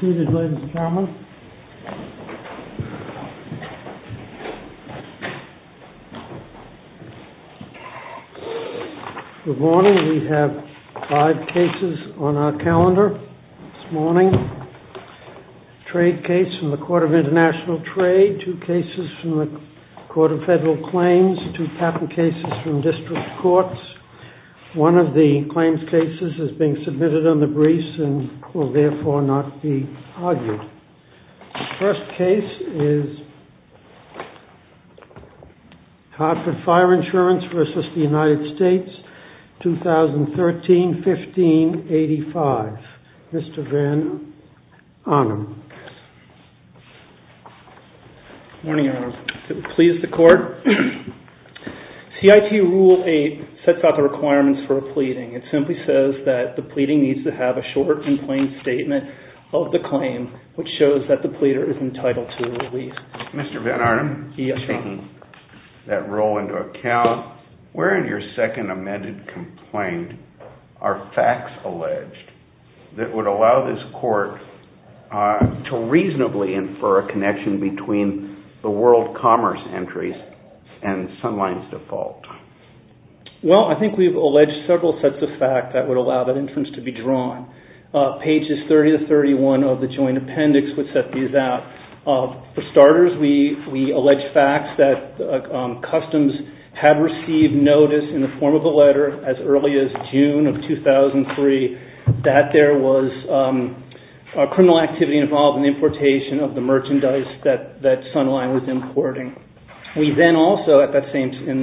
Good morning. We have five cases on our calendar this morning. Trade case from the Court of International Trade, two cases from the Court of Federal Claims, two patent cases from district courts. One of the claims cases is being submitted on the briefs and will therefore not be argued. The first case is Hartford Fire Insurance v. United States, 2013-15-85. Mr. Van Arnam. Good morning, Your Honor. Does it please the Court? CIT Rule 8 sets out the requirements for a pleading. It simply says that the pleading needs to have a short and plain statement of the claim, which shows that the pleader is entitled to a release. Mr. Van Arnam. Yes, Your Honor. Taking that rule into account, where in your second amended complaint are facts alleged that would allow this court to reasonably infer a connection between the world commerce entries and Sunline's default? Well, I think we've alleged several sets of facts that would allow that inference to be drawn. Pages 30-31 of the joint appendix would set these out. For starters, we allege facts that customs had received notice in the form of a letter as early as June of 2003 that there was criminal activity involved in the importation of the merchandise that Sunline was importing. We then also, at that same time,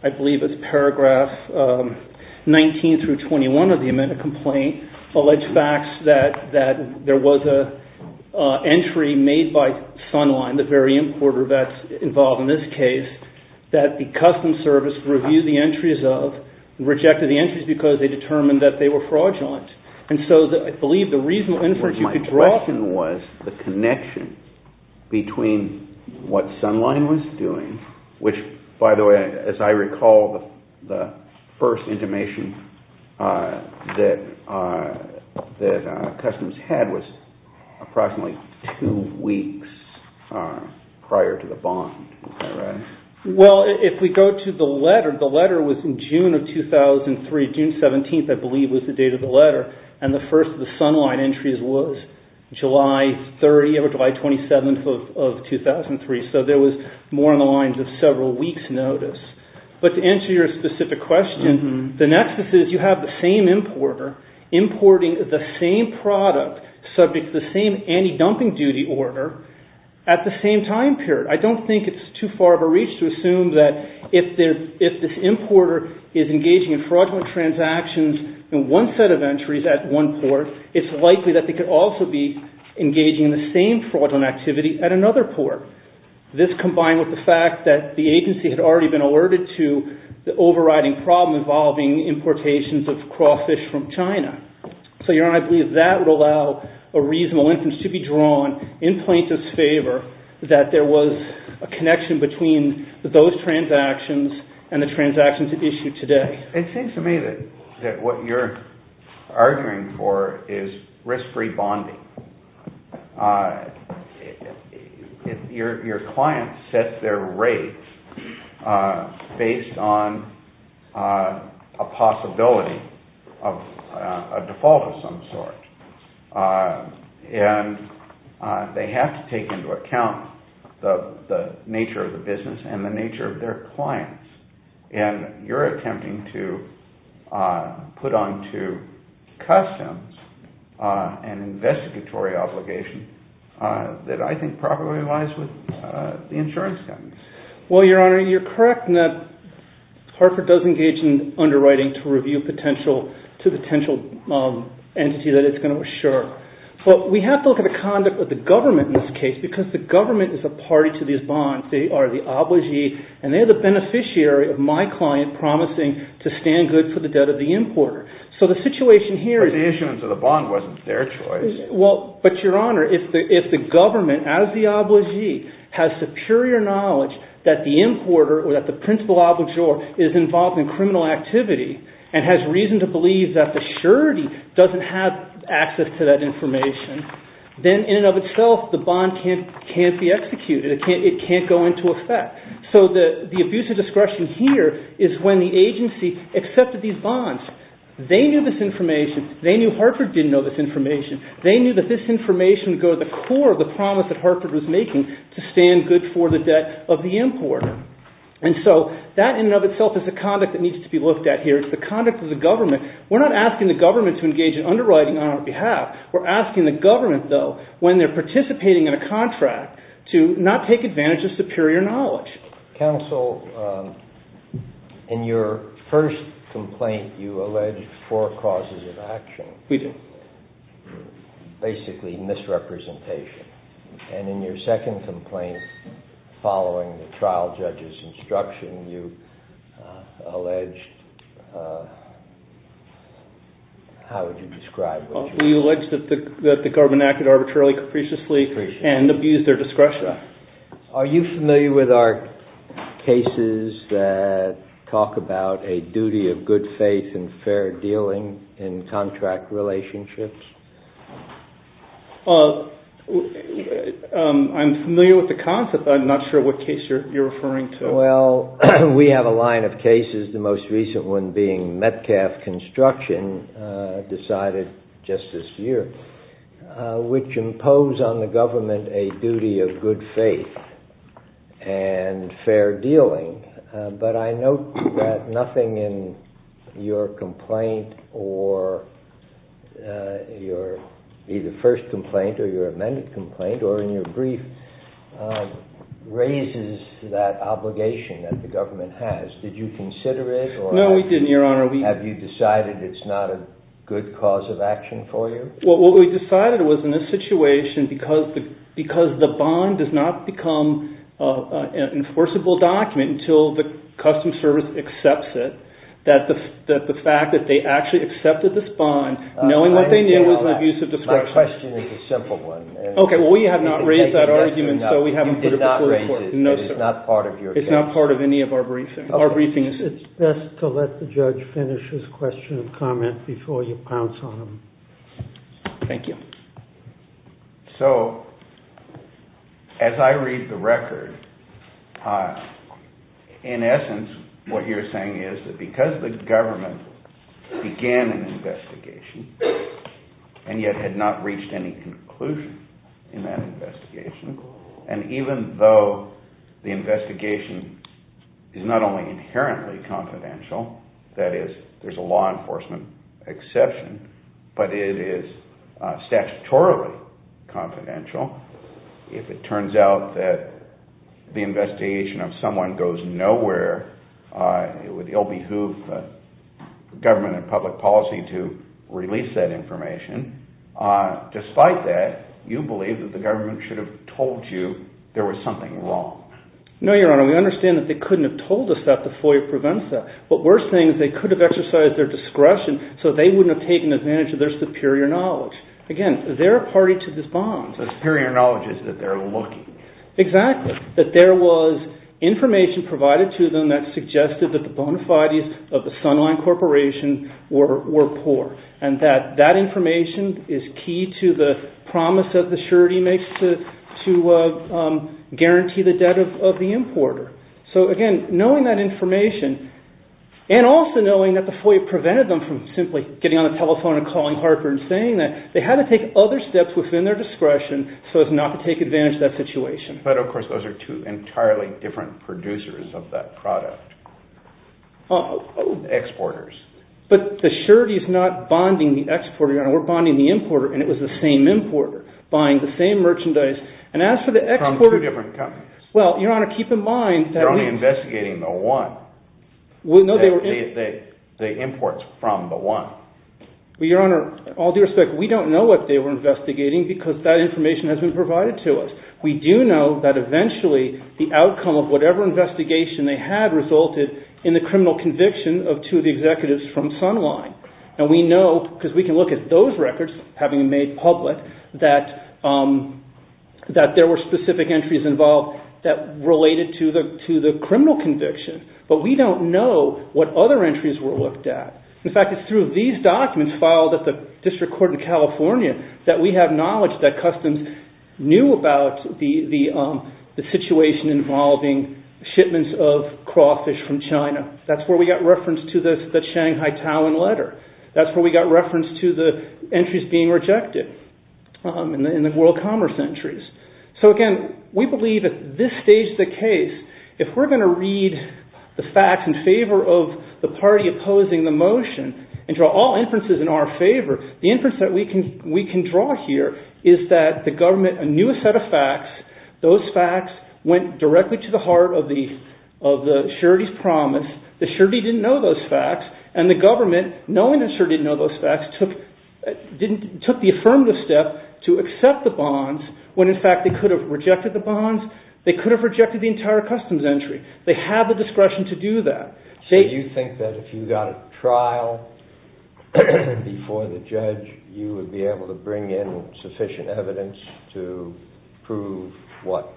I believe it's paragraph 19-21 of the amended complaint, allege facts that there was an entry made by Sunline, the very importer that's involved in this case, that the customs service reviewed the entries of and rejected the entries because they determined that they were fraudulent. And so I believe the reasonable inference you could draw... My question was the connection between what Sunline was doing, which, by the way, as I recall, the first intimation that customs had was approximately two weeks prior to the bond. Is that right? Well, if we go to the letter, the letter was in June of 2003. June 17th, I believe, was the date of the letter, and the first of the Sunline entries was July 30th or July 27th of 2003. So there was more on the lines of several weeks' notice. But to answer your specific question, the nexus is you have the same importer importing the same product subject to the same anti-dumping duty order at the same time period. I don't think it's too far of a reach to assume that if this importer is engaging in fraudulent transactions in one set of entries at one port, it's likely that they could also be engaging in the same fraudulent activity at another port. This combined with the fact that the agency had already been alerted to the overriding problem involving importations of crawfish from China. So, Your Honor, I believe that would allow a reasonable inference to be drawn in plaintiff's favor that there was a connection between those transactions and the transactions at issue today. It seems to me that what you're arguing for is risk-free bonding. Your client sets their rates based on a possibility of a default of some sort. And they have to take into account the nature of the business and the nature of their clients. And you're attempting to put onto customs an investigatory obligation that I think probably lies with the insurance company. Well, Your Honor, you're correct in that Hartford does engage in underwriting to review potential to the potential entity that it's going to assure. But we have to look at the conduct of the government in this case because the government is a party to these bonds. They are the obligee. And they are the beneficiary of my client promising to stand good for the debt of the importer. So the situation here is... But the issuance of the bond wasn't their choice. Well, but Your Honor, if the government, as the obligee, has superior knowledge that the importer or that the principal obligor is involved in criminal activity and has reason to believe that the surety doesn't have access to that information, then in and of itself the bond can't be executed. It can't go into effect. So the abuse of discretion here is when the agency accepted these bonds. They knew this information. They knew Hartford didn't know this information. They knew that this information would go to the core of the promise that Hartford was making to stand good for the debt of the importer. And so that in and of itself is a conduct that needs to be looked at here. It's the conduct of the government. We're not asking the government to engage in underwriting on our behalf. We're asking the government, though, when they're participating in a contract to not take advantage of superior knowledge. Counsel, in your first complaint you alleged four causes of action. We did. Basically misrepresentation. And in your second complaint, following the trial judge's instruction, you alleged... How would you describe what you alleged? We alleged that the government acted arbitrarily, capriciously, and abused their discretion. Are you familiar with our cases that talk about a duty of good faith and fair dealing in contract relationships? I'm familiar with the concept. I'm not sure what case you're referring to. Well, we have a line of cases, the most recent one being Metcalf Construction, decided just this year, which impose on the government a duty of good faith and fair dealing. But I note that nothing in your complaint or your either first complaint or your amended complaint or in your brief raises that obligation that the government has. Did you consider it? No, we didn't, Your Honor. Have you decided it's not a good cause of action for you? Well, what we decided was in this situation, because the bond does not become an enforceable document until the customs service accepts it, that the fact that they actually accepted this bond, knowing what they knew was an abuse of discretion. My question is a simple one. Okay, well, we have not raised that argument, so we haven't put it before the court. You did not raise it. No, sir. It's not part of your case. It's not part of any of our briefings. It's best to let the judge finish his question and comment before you pounce on him. Thank you. So, as I read the record, in essence, what you're saying is that because the government began an investigation and yet had not reached any conclusion in that investigation, and even though the investigation is not only inherently confidential, that is, there's a law enforcement exception, but it is statutorily confidential, if it turns out that the investigation of someone goes nowhere, it would ill-behoove government and public policy to release that information. Despite that, you believe that the government should have told you there was something wrong. No, Your Honor. We understand that they couldn't have told us that before it prevents that. What we're saying is they could have exercised their discretion so they wouldn't have taken advantage of their superior knowledge. Again, they're a party to this bond. The superior knowledge is that they're looking. Exactly. That there was information provided to them that suggested that the bona fides of the Sunline Corporation were poor, and that that information is key to the promise that the surety makes to guarantee the debt of the importer. So, again, knowing that information, and also knowing that the FOIA prevented them from simply getting on the telephone and calling Harper and saying that, they had to take other steps within their discretion so as not to take advantage of that situation. But, of course, those are two entirely different producers of that product. Exporters. But the surety is not bonding the exporter, Your Honor. We're bonding the importer, and it was the same importer buying the same merchandise. And as for the exporter… From two different companies. Well, Your Honor, keep in mind that we… They're only investigating the one. No, they were… The imports from the one. Well, Your Honor, all due respect, we don't know what they were investigating because that information has been provided to us. We do know that eventually the outcome of whatever investigation they had resulted in the criminal conviction of two of the executives from Sunline. And we know, because we can look at those records, having made public, that there were specific entries involved that related to the criminal conviction. But we don't know what other entries were looked at. In fact, it's through these documents filed at the District Court in California that we have knowledge that Customs knew about the situation involving shipments of crawfish from China. That's where we got reference to the Shanghai Talon letter. That's where we got reference to the entries being rejected in the world commerce entries. So, again, we believe at this stage of the case, if we're going to read the facts in favor of the party opposing the motion and draw all inferences in our favor, the inference that we can draw here is that the government knew a set of facts. Those facts went directly to the heart of the surety's promise. The surety didn't know those facts. And the government, knowing the surety didn't know those facts, took the affirmative step to accept the bonds when, in fact, they could have rejected the bonds. They could have rejected the entire Customs entry. They have the discretion to do that. Do you think that if you got a trial before the judge, you would be able to bring in sufficient evidence to prove what?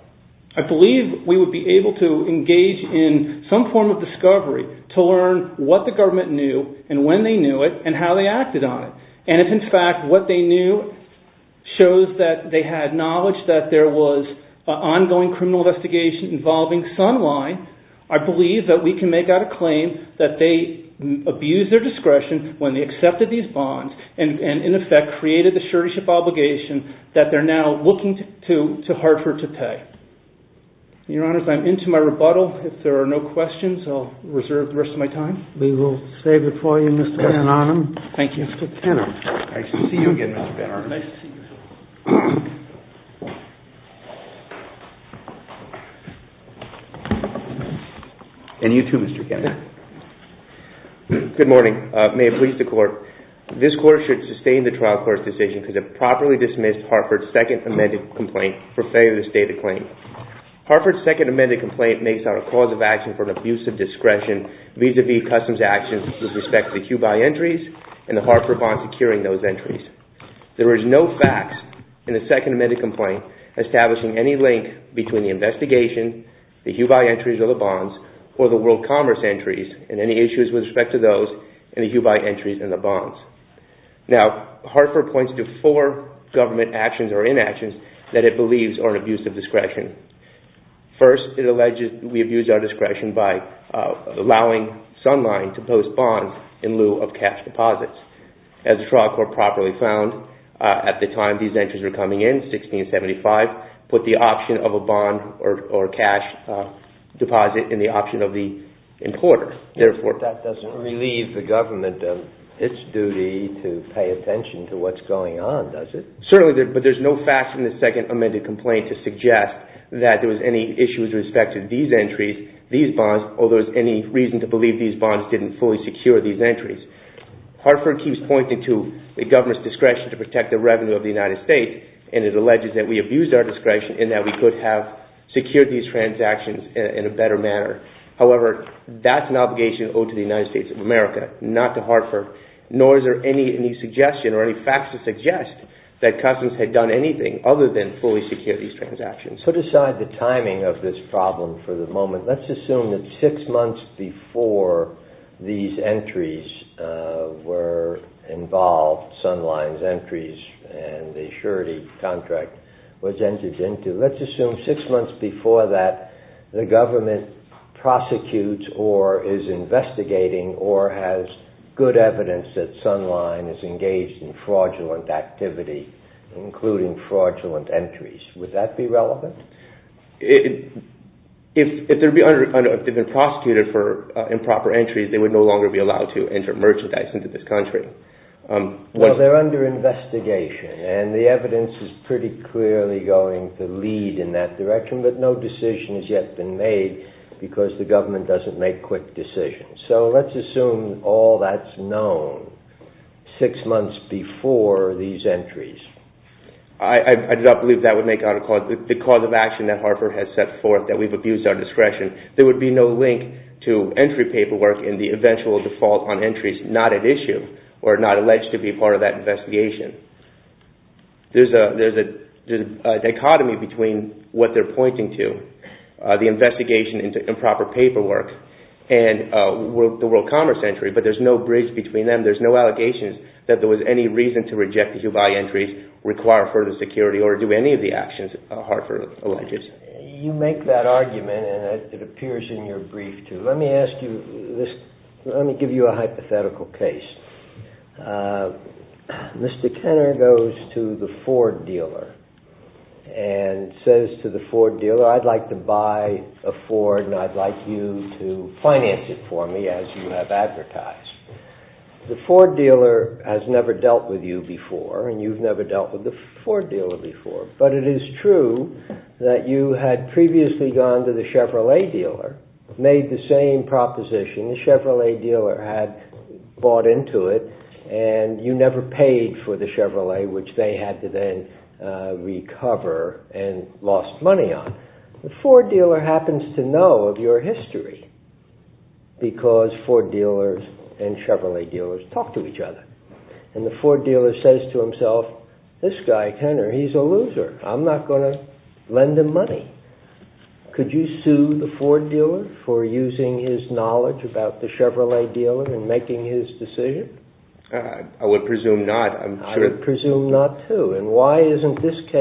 I believe we would be able to engage in some form of discovery to learn what the government knew and when they knew it and how they acted on it. And if, in fact, what they knew shows that they had knowledge that there was an ongoing criminal investigation involving Sunline, I believe that we can make out a claim that they abused their discretion when they accepted these bonds and, in effect, created the surety obligation that they're now looking to Hartford to pay. Your Honors, I'm into my rebuttal. If there are no questions, I'll reserve the rest of my time. We will save it for you, Mr. Van Arnam. Thank you. Mr. Tenor. Nice to see you again, Mr. Van Arnam. Nice to see you. And you too, Mr. Tenor. Good morning. May it please the Court. This Court should sustain the trial court's decision to properly dismiss Hartford's second amended complaint for failure to stay the claim. Hartford's second amended complaint makes out a cause of action for an abuse of discretion vis-à-vis customs actions with respect to the HUBI entries and the Hartford bond securing those entries. There is no facts in the second amended complaint establishing any link between the investigation, the HUBI entries or the bonds, or the World Commerce entries and any issues with respect to those and the HUBI entries and the bonds. Now, Hartford points to four government actions or inactions that it believes are an abuse of discretion. First, it alleges we abuse our discretion by allowing Sunline to post bonds in lieu of cash deposits. As the trial court properly found at the time these entries were coming in, 1675, put the option of a bond or cash deposit in the option of the importer. That doesn't relieve the government of its duty to pay attention to what's going on, does it? Certainly, but there's no facts in the second amended complaint to suggest that there was any issues with respect to these entries, these bonds, or there was any reason to believe these bonds didn't fully secure these entries. Hartford keeps pointing to the government's discretion to protect the revenue of the United States and it alleges that we abuse our discretion and that we could have secured these transactions in a better manner. However, that's an obligation owed to the United States of America, not to Hartford, nor is there any suggestion or any facts to suggest that customs had done anything other than fully secure these transactions. Put aside the timing of this problem for the moment. Let's assume that six months before these entries were involved, Sunline's entries, and the surety contract was entered into, let's assume six months before that, the government prosecutes or is investigating or has good evidence that Sunline is engaged in fraudulent activity, including fraudulent entries. Would that be relevant? If they'd been prosecuted for improper entries, they would no longer be allowed to enter merchandise into this country. Well, they're under investigation and the evidence is pretty clearly going to lead in that direction, but no decision has yet been made because the government doesn't make quick decisions. So let's assume all that's known six months before these entries. I do not believe that would make out a cause. The cause of action that Hartford has set forth, that we've abused our discretion, there would be no link to entry paperwork in the eventual default on entries not at issue or not alleged to be part of that investigation. There's a dichotomy between what they're pointing to, the investigation into improper paperwork, and the World Commerce entry, but there's no bridge between them. There's no allegations that there was any reason to reject the Dubai entries, require further security, or do any of the actions Hartford alleges. You make that argument and it appears in your brief too. Let me give you a hypothetical case. Mr. Kenner goes to the Ford dealer and says to the Ford dealer, I'd like to buy a Ford and I'd like you to finance it for me as you have advertised. The Ford dealer has never dealt with you before and you've never dealt with the Ford dealer before, but it is true that you had previously gone to the Chevrolet dealer, made the same proposition the Chevrolet dealer had bought into it and you never paid for the Chevrolet which they had to then recover and lost money on. The Ford dealer happens to know of your history because Ford dealers and Chevrolet dealers talk to each other and the Ford dealer says to himself, this guy, Kenner, he's a loser. I'm not going to lend him money. Could you sue the Ford dealer for using his knowledge about the Chevrolet dealer in making his decision? I would presume not. I would presume not too. Why is this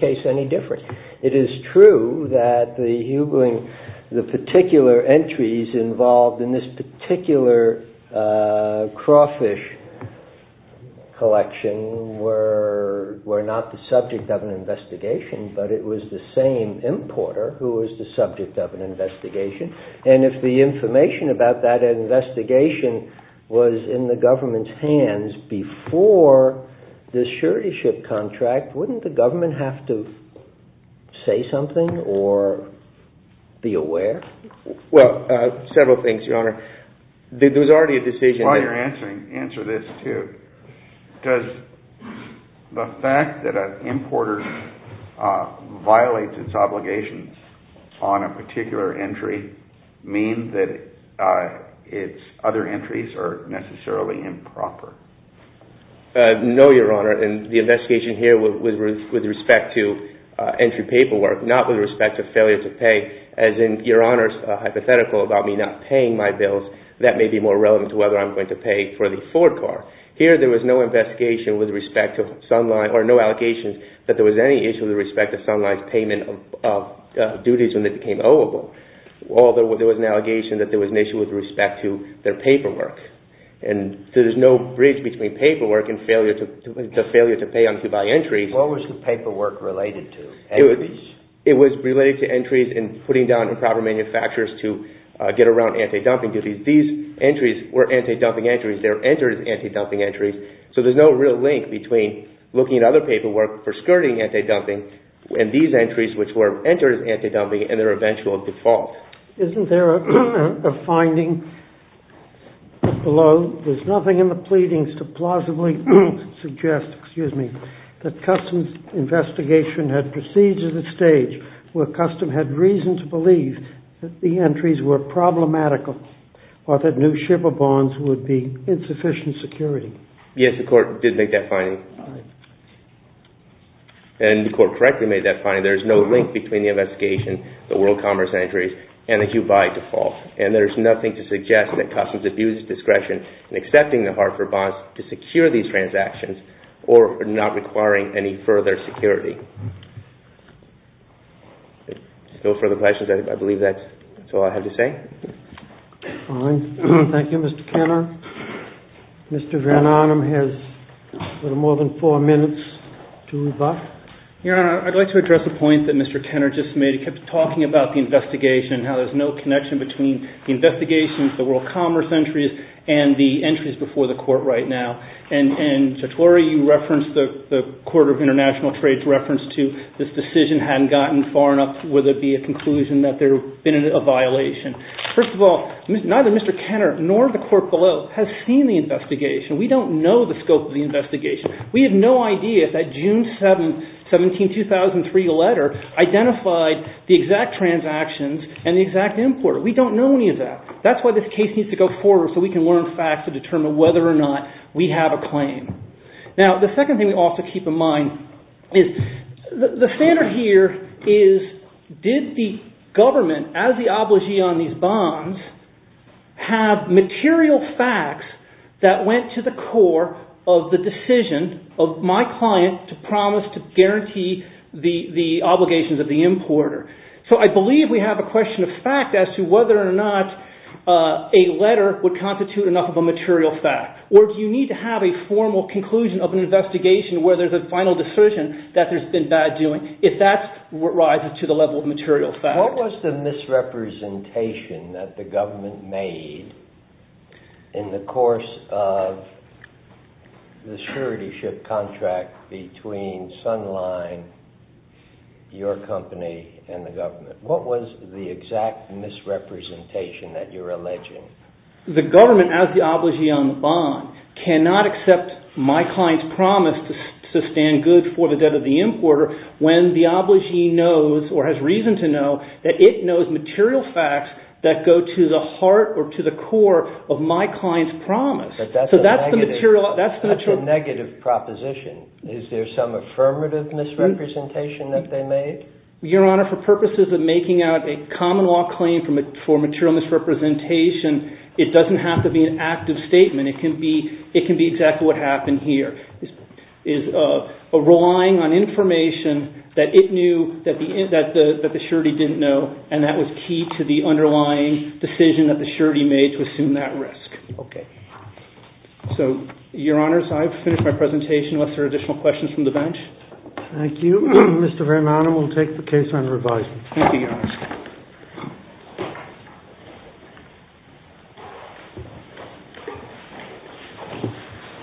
case any different? It is true that the particular entries involved in this particular crawfish collection were not the subject of an investigation, but it was the same importer who was the subject of an investigation and if the information about that investigation was in the government's hands before the suretyship contract, wouldn't the government have to say something or be aware? Well, several things, Your Honor. There was already a decision... While you're answering, answer this too. Does the fact that an importer violates its obligations on a particular entry mean that its other entries are necessarily improper? No, Your Honor, and the investigation here was with respect to entry paperwork, not with respect to failure to pay. That may be more relevant to whether I'm going to pay for the Ford car. Here, there was no investigation with respect to Sunline or no allegations that there was any issue with respect to Sunline's payment of duties when they became oweable. Although there was an allegation that there was an issue with respect to their paperwork. There's no bridge between paperwork and the failure to pay and to buy entries. What was the paperwork related to? It was related to entries and putting down improper manufacturers to get around anti-dumping duties. These entries were anti-dumping entries. They were entered as anti-dumping entries. So there's no real link between looking at other paperwork for skirting anti-dumping and these entries which were entered as anti-dumping and their eventual default. Isn't there a finding below? There's nothing in the pleadings to plausibly suggest that Customs' investigation had proceeded to the stage where Customs had reason to believe that the entries were problematical or that new shipper bonds would be insufficient security. Yes, the court did make that finding. And the court correctly made that finding. There's no link between the investigation, the World Commerce entries, and the HUBI default. And there's nothing to suggest that Customs abused discretion in accepting the Hartford bonds to secure these transactions or not requiring any further security. No further questions? I believe that's all I have to say. Fine. Thank you, Mr. Kenner. Mr. Van Arnam has a little more than four minutes to rebut. Your Honor, I'd like to address a point that Mr. Kenner just made. He kept talking about the investigation and how there's no connection between the investigation, the World Commerce entries, and the entries before the court right now. And, Mr. Torrey, you referenced the Court of International Trade's reference to this decision hadn't gotten far enough where there'd be a conclusion that there'd been a violation. First of all, neither Mr. Kenner nor the court below has seen the investigation. We don't know the scope of the investigation. We have no idea if that June 7, 17, 2003 letter identified the exact transactions and the exact importer. We don't know any of that. That's why this case needs to go forward so we can learn facts to determine whether or not we have a claim. Now, the second thing we also keep in mind is the standard here is, did the government, as the obligee on these bonds, have material facts that went to the core of the decision of my client to promise to guarantee the obligations of the importer? So I believe we have a question of fact as to whether or not a letter would constitute enough of a material fact. Or do you need to have a formal conclusion of an investigation where there's a final decision that there's been bad doing, if that's what rises to the level of material fact? What was the misrepresentation that the government made in the course of the surety ship contract between Sunline, your company, and the government? What was the exact misrepresentation that you're alleging? The government, as the obligee on the bond, cannot accept my client's promise to sustain goods for the debt of the importer when the obligee knows, or has reason to know, that it knows material facts that go to the heart or to the core of my client's promise. But that's a negative proposition. Is there some affirmative misrepresentation that they made? Your Honor, for purposes of making out a common law claim for material misrepresentation, it doesn't have to be an active statement. It can be exactly what happened here. It's a relying on information that it knew that the surety didn't know, and that was key to the underlying decision that the surety made to assume that risk. Okay. So, Your Honor, so I've finished my presentation. Unless there are additional questions from the bench? Thank you. Thank you, Your Honor. Thank you.